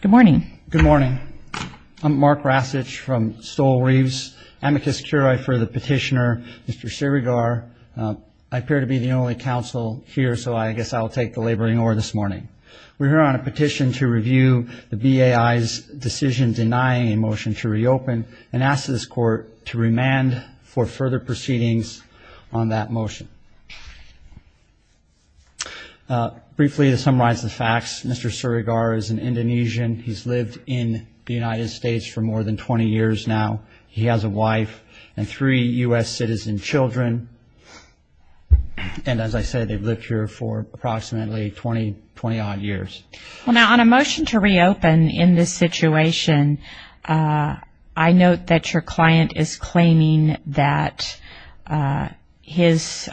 Good morning. Good morning. I'm Mark Rasich from Stoll Reeves, amicus curiae for the petitioner, Mr. Siregar. I appear to be the only counsel here, so I guess I'll take the laboring over this morning. We're here on a petition to review the BAI's decision denying a motion to reopen and ask this court to remand for further proceedings on that motion. Briefly, to summarize the facts, Mr. Siregar is an Indonesian. He's lived in the United States for more than 20 years now. He has a wife and three U.S. citizen children, and as I said, they've lived here for approximately 20-odd years. Well, now, on a motion to reopen in this situation, I note that your client is claiming that his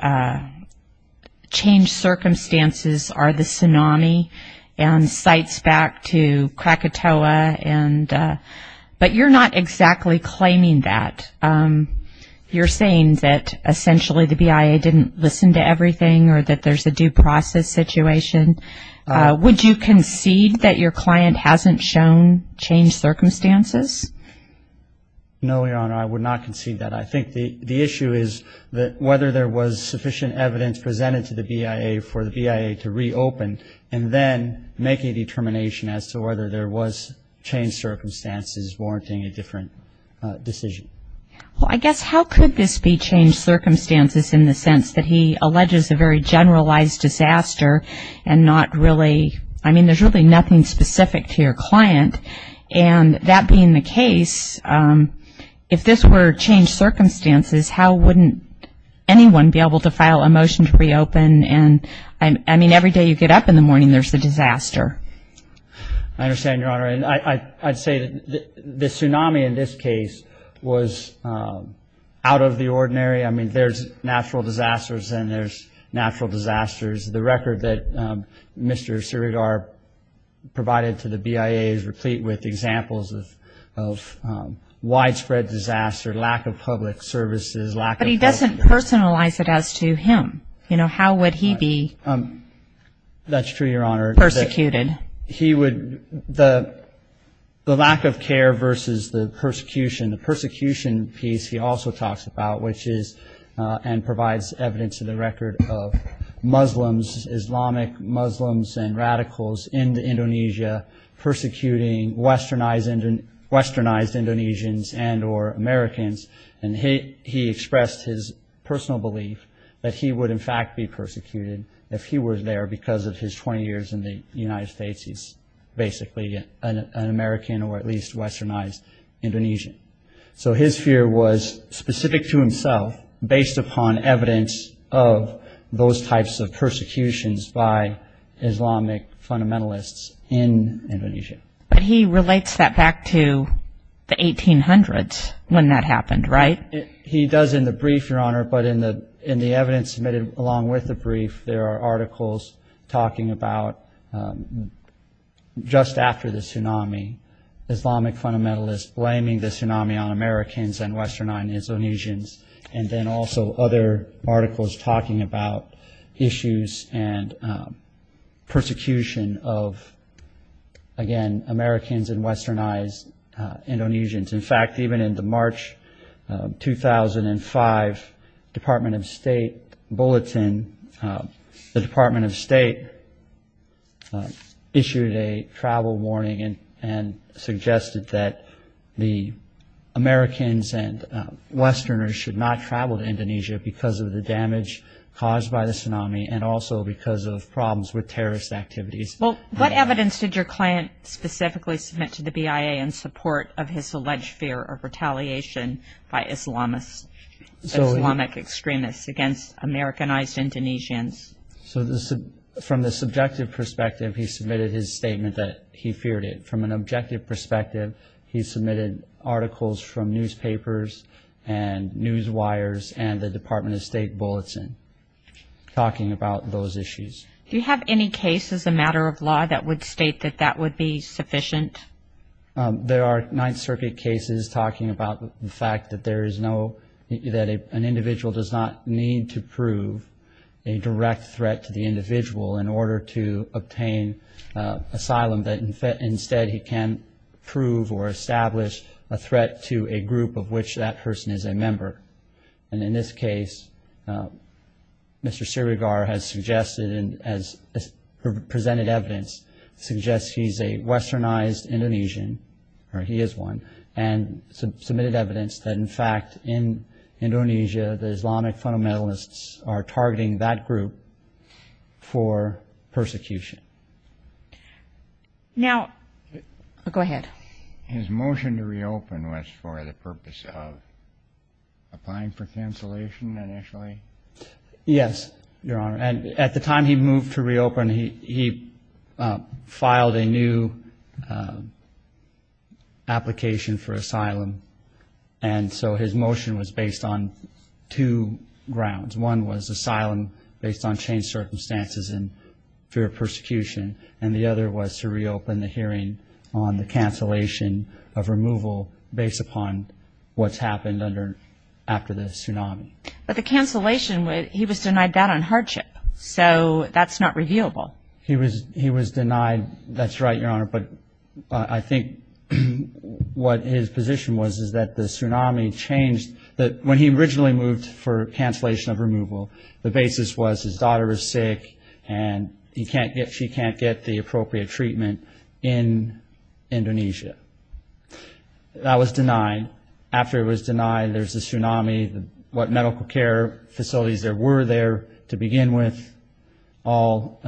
changed circumstances are the tsunami and sites back to Krakatoa, but you're not exactly claiming that. You're saying that essentially the BIA didn't listen to everything or that there's a due process situation. Would you concede that your client hasn't shown changed circumstances? No, Your Honor, I would not concede that. I think the issue is whether there was sufficient evidence presented to the BIA for the BIA to reopen and then make a determination as to whether there was changed circumstances warranting a different decision. Well, I guess how could this be changed circumstances in the sense that he alleges a very generalized disaster and not really ñ I mean, there's really nothing specific to your client. And that being the case, if this were changed circumstances, how wouldn't anyone be able to file a motion to reopen? I mean, every day you get up in the morning, there's a disaster. I understand, Your Honor. I'd say the tsunami in this case was out of the ordinary. I mean, there's natural disasters and there's natural disasters. The record that Mr. Surigar provided to the BIA is replete with examples of widespread disaster, lack of public services, lack of health care. But he doesn't personalize it as to him. You know, how would he be persecuted? That's true, Your Honor. He would ñ the lack of care versus the persecution. The persecution piece he also talks about, which is ñ and provides evidence to the record of Muslims, Islamic Muslims and radicals in Indonesia persecuting westernized Indonesians and or Americans. And he expressed his personal belief that he would, in fact, be persecuted if he were there because of his 20 years in the United States. He's basically an American or at least westernized Indonesian. So his fear was specific to himself based upon evidence of those types of persecutions by Islamic fundamentalists in Indonesia. But he relates that back to the 1800s when that happened, right? He does in the brief, Your Honor. But in the evidence submitted along with the brief, there are articles talking about just after the tsunami, Islamic fundamentalists blaming the tsunami on Americans and westernized Indonesians. And then also other articles talking about issues and persecution of, again, Americans and westernized Indonesians. In fact, even in the March 2005 Department of State bulletin, the Department of State issued a travel warning and suggested that the Americans and westerners should not travel to Indonesia because of the damage caused by the tsunami and also because of problems with terrorist activities. Well, what evidence did your client specifically submit to the BIA in support of his alleged fear of retaliation by Islamic extremists against Americanized Indonesians? So from the subjective perspective, he submitted his statement that he feared it. From an objective perspective, he submitted articles from newspapers and news wires and the Department of State bulletin talking about those issues. Do you have any case as a matter of law that would state that that would be sufficient? There are Ninth Circuit cases talking about the fact that an individual does not need to prove a direct threat to the individual in order to obtain asylum, that instead he can prove or establish a threat to a group of which that person is a member. And in this case, Mr. Sirigar has suggested, as presented evidence, suggests he's a westernized Indonesian, or he is one, and submitted evidence that, in fact, in Indonesia, the Islamic fundamentalists are targeting that group for persecution. Now, go ahead. His motion to reopen was for the purpose of applying for cancellation initially? Yes, Your Honor. At the time he moved to reopen, he filed a new application for asylum, and so his motion was based on two grounds. One was asylum based on changed circumstances and fear of persecution, and the other was to reopen the hearing on the cancellation of removal based upon what's happened after the tsunami. But the cancellation, he was denied that on hardship, so that's not reviewable. He was denied, that's right, Your Honor, but I think what his position was is that the tsunami changed, that when he originally moved for cancellation of removal, the basis was his daughter was sick and she can't get the appropriate treatment in Indonesia. That was denied. After it was denied, there's the tsunami, what medical care facilities there were there to begin with, all.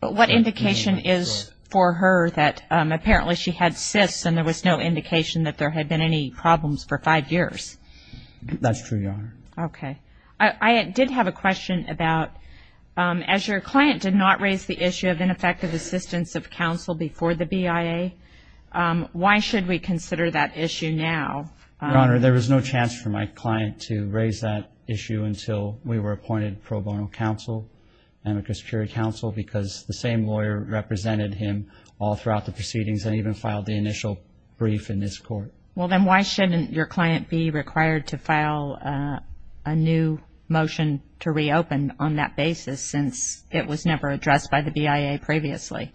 But what indication is for her that apparently she had cysts and there was no indication that there had been any problems for five years? That's true, Your Honor. Okay. I did have a question about, as your client did not raise the issue of ineffective assistance of counsel before the BIA, why should we consider that issue now? Your Honor, there was no chance for my client to raise that issue until we were appointed pro bono counsel, and because the same lawyer represented him all throughout the proceedings and even filed the initial brief in this court. Well, then why shouldn't your client be required to file a new motion to reopen on that basis since it was never addressed by the BIA previously?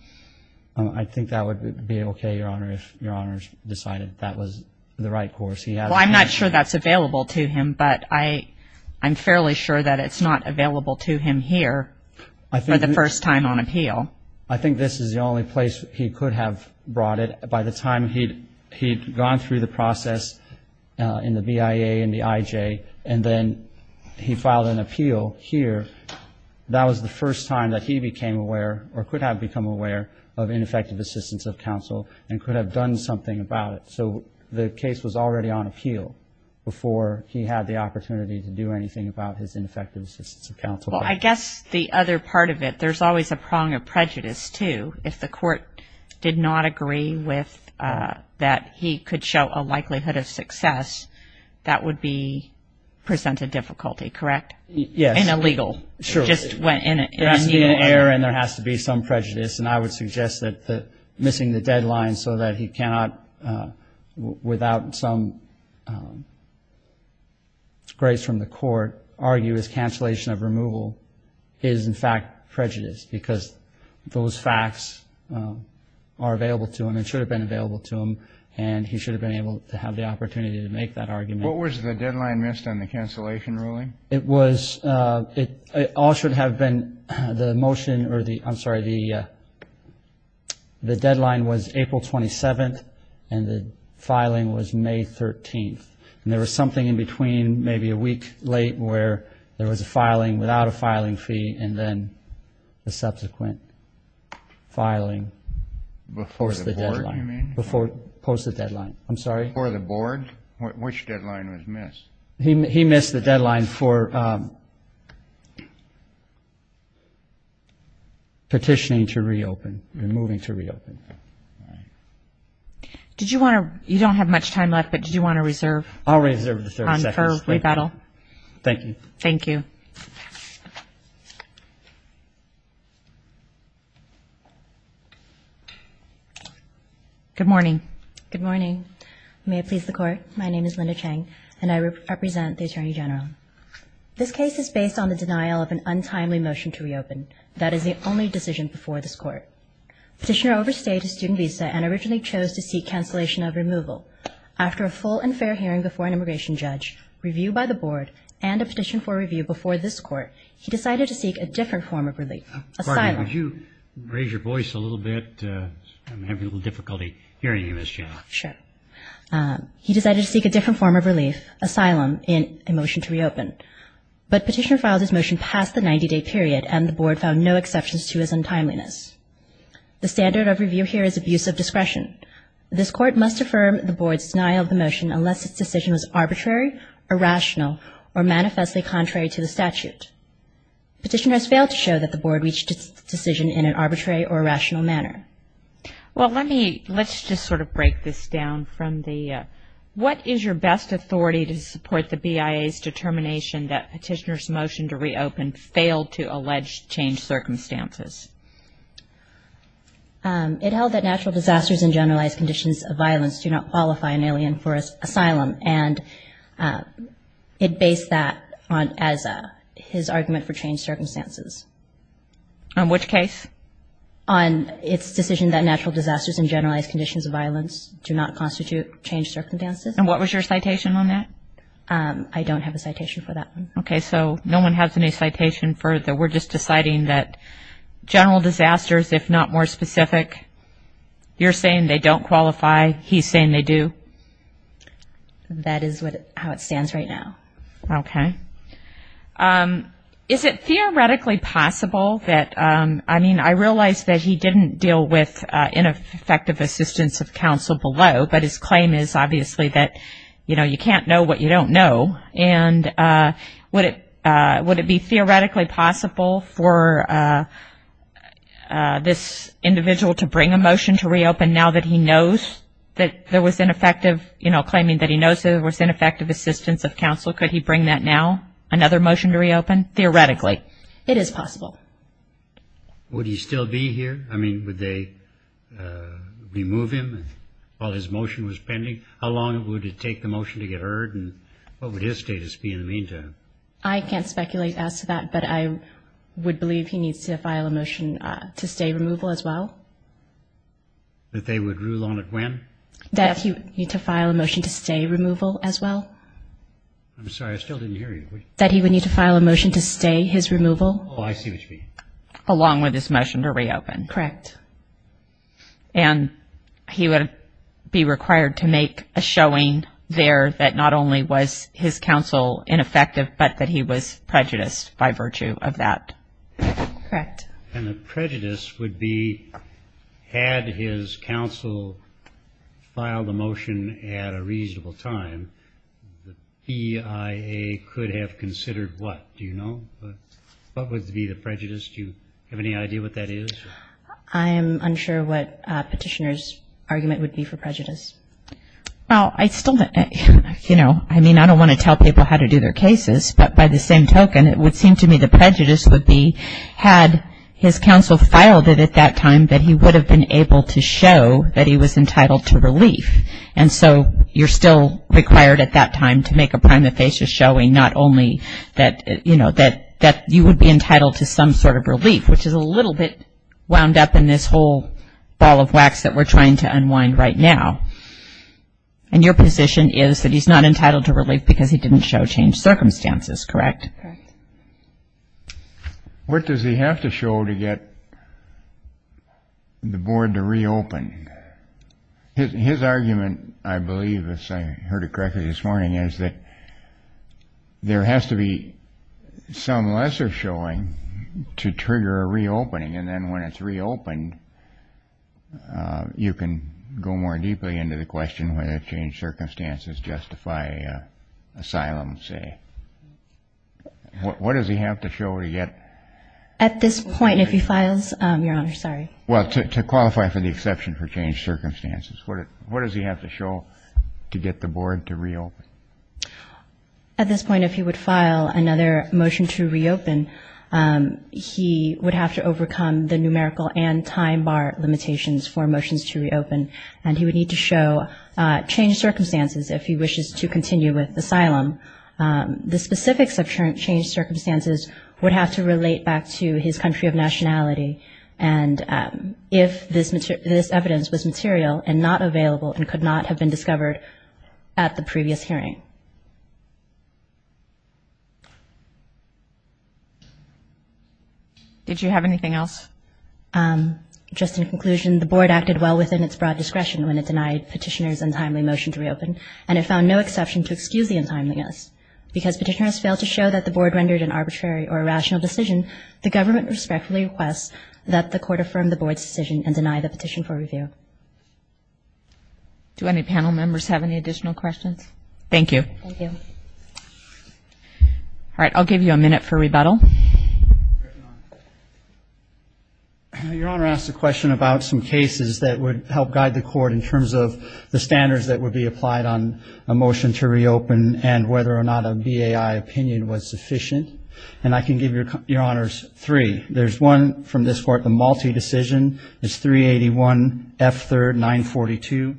I think that would be okay, Your Honor, if Your Honor decided that was the right course. Well, I'm not sure that's available to him, but I'm fairly sure that it's not available to him here for the first time on appeal. I think this is the only place he could have brought it. By the time he'd gone through the process in the BIA and the IJ and then he filed an appeal here, that was the first time that he became aware or could have become aware of ineffective assistance of counsel and could have done something about it. So the case was already on appeal before he had the opportunity to do anything about his ineffective assistance of counsel. Well, I guess the other part of it, there's always a prong of prejudice, too, if the court did not agree that he could show a likelihood of success, that would present a difficulty, correct? Yes. And illegal. There has to be an error and there has to be some prejudice, and I would suggest that missing the deadline so that he cannot, without some grace from the court, argue his cancellation of removal is, in fact, prejudice because those facts are available to him and should have been available to him and he should have been able to have the opportunity to make that argument. What was the deadline missed on the cancellation ruling? It all should have been the motion or the, I'm sorry, the deadline was April 27th and the filing was May 13th, and there was something in between maybe a week late where there was a filing without a filing fee and then a subsequent filing before the deadline. Before the board, you mean? Before, post the deadline, I'm sorry. Before the board? Which deadline was missed? He missed the deadline for petitioning to reopen, removing to reopen. All right. Did you want to, you don't have much time left, but did you want to reserve? I'll reserve the 30 seconds. On her rebuttal? Thank you. Thank you. Good morning. Good morning. May it please the court, my name is Linda Chang and I represent the Attorney General. This case is based on the denial of an untimely motion to reopen. That is the only decision before this court. Petitioner overstayed his student visa and originally chose to seek cancellation of removal. After a full and fair hearing before an immigration judge, review by the board, and a petition for review before this court, he decided to seek a different form of relief, asylum. Could you raise your voice a little bit? I'm having a little difficulty hearing you, Ms. Chang. Sure. He decided to seek a different form of relief, asylum, in a motion to reopen. But petitioner filed his motion past the 90-day period and the board found no exceptions to his untimeliness. The standard of review here is abuse of discretion. This court must affirm the board's denial of the motion unless its decision was arbitrary, irrational, or manifestly contrary to the statute. Petitioner has failed to show that the board reached its decision in an arbitrary or rational manner. Well, let me, let's just sort of break this down from the, what is your best authority to support the BIA's determination that petitioner's motion to reopen failed to allege changed circumstances? It held that natural disasters and generalized conditions of violence do not qualify an alien for asylum. And it based that on, as his argument for changed circumstances. On which case? On its decision that natural disasters and generalized conditions of violence do not constitute changed circumstances. And what was your citation on that? I don't have a citation for that one. Okay. So no one has any citation for that. We're just deciding that general disasters, if not more specific. You're saying they don't qualify. He's saying they do. That is how it stands right now. Okay. Is it theoretically possible that, I mean, I realize that he didn't deal with ineffective assistance of counsel below, but his claim is obviously that, you know, you can't know what you don't know. And would it be theoretically possible for this individual to bring a motion to reopen now that he knows that there was ineffective, you know, claiming that he knows there was ineffective assistance of counsel? Could he bring that now, another motion to reopen? Theoretically. It is possible. Would he still be here? I mean, would they remove him while his motion was pending? How long would it take the motion to get heard, and what would his status be in the meantime? I can't speculate as to that, but I would believe he needs to file a motion to stay removal as well. That they would rule on it when? That he would need to file a motion to stay removal as well. I'm sorry. I still didn't hear you. That he would need to file a motion to stay his removal. Oh, I see what you mean. Along with his motion to reopen. Correct. And he would be required to make a showing there that not only was his counsel ineffective, but that he was prejudiced by virtue of that. Correct. And the prejudice would be had his counsel filed a motion at a reasonable time, the BIA could have considered what? Do you know? What would be the prejudice? Do you have any idea what that is? I am unsure what petitioner's argument would be for prejudice. Well, I still, you know, I mean, I don't want to tell people how to do their cases, but by the same token it would seem to me the prejudice would be had his counsel filed it at that time, that he would have been able to show that he was entitled to relief. And so you're still required at that time to make a prima facie showing not only that, you know, that you would be entitled to some sort of relief, which is a little bit wound up in this whole ball of wax that we're trying to unwind right now. And your position is that he's not entitled to relief because he didn't show changed circumstances, correct? Correct. What does he have to show to get the board to reopen? His argument, I believe, as I heard it correctly this morning, is that there has to be some lesser showing to trigger a reopening, and then when it's reopened you can go more deeply into the question whether changed circumstances justify asylum, say. What does he have to show to get? At this point, if he files, Your Honor, sorry. Well, to qualify for the exception for changed circumstances, what does he have to show to get the board to reopen? At this point, if he would file another motion to reopen, he would have to overcome the numerical and time bar limitations for motions to reopen, and he would need to show changed circumstances if he wishes to continue with asylum. The specifics of changed circumstances would have to relate back to his country of nationality and if this evidence was material and not available and could not have been discovered at the previous hearing. Did you have anything else? Just in conclusion, the board acted well within its broad discretion when it denied petitioners' untimely motion to reopen, and it found no exception to excuse the untimeliness. Because petitioners failed to show that the board rendered an arbitrary or irrational decision, the government respectfully requests that the court affirm the board's decision and deny the petition for review. Do any panel members have any additional questions? Thank you. Thank you. All right. I'll give you a minute for rebuttal. Your Honor, I asked a question about some cases that would help guide the court in terms of the standards that would be applied on a motion to reopen and whether or not a BAI opinion was sufficient. And I can give you, Your Honor, three. There's one from this court, the Malte decision. It's 381 F. 3rd, 942.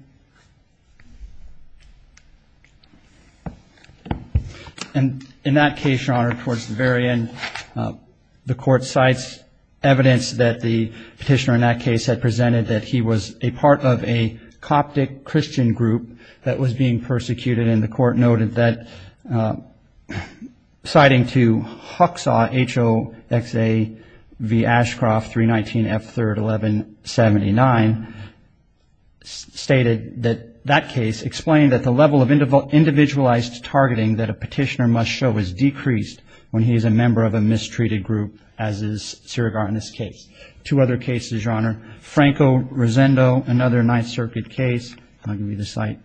And in that case, Your Honor, towards the very end, the court cites evidence that the petitioner in that case had presented that he was a part of a Coptic Christian group that was being persecuted and the court noted that, citing to Huxaw, H-O-X-A-V Ashcroft, 319 F. 3rd, 1179, stated that that case explained that the level of individualized targeting that a petitioner must show is decreased when he is a member of a mistreated group as is surrogate in this case. Two other cases, Your Honor. Franco-Rosendo, another Ninth Circuit case. I'll give you the cite.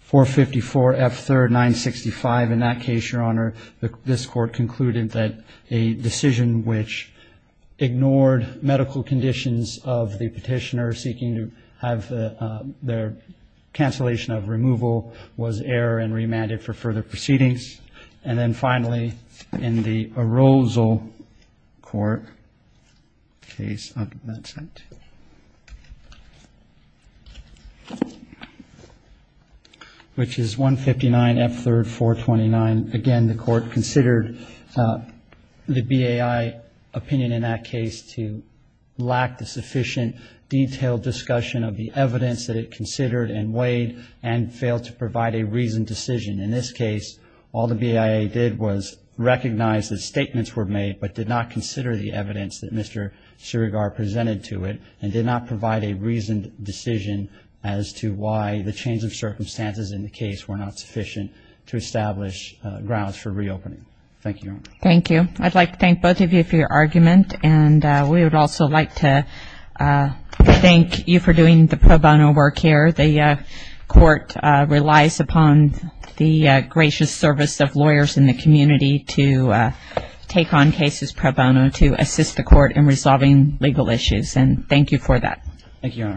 454 F. 3rd, 965. In that case, Your Honor, this court concluded that a decision which ignored medical conditions of the petitioner seeking to have their cancellation of removal was error and remanded for further proceedings. And then finally, in the Arousal Court case, I'll give you that cite, which is 159 F. 3rd, 429. Again, the court considered the BAI opinion in that case to lack the sufficient detailed discussion of the evidence that it considered and weighed and failed to provide a reasoned decision. In this case, all the BIA did was recognize that statements were made but did not consider the evidence that Mr. Surigar presented to it and did not provide a reasoned decision as to why the change of circumstances in the case were not sufficient to establish grounds for reopening. Thank you, Your Honor. Thank you. I'd like to thank both of you for your argument, and we would also like to thank you for doing the pro bono work here. The court relies upon the gracious service of lawyers in the community to take on cases pro bono to assist the court in resolving legal issues. And thank you for that. Thank you, Your Honor.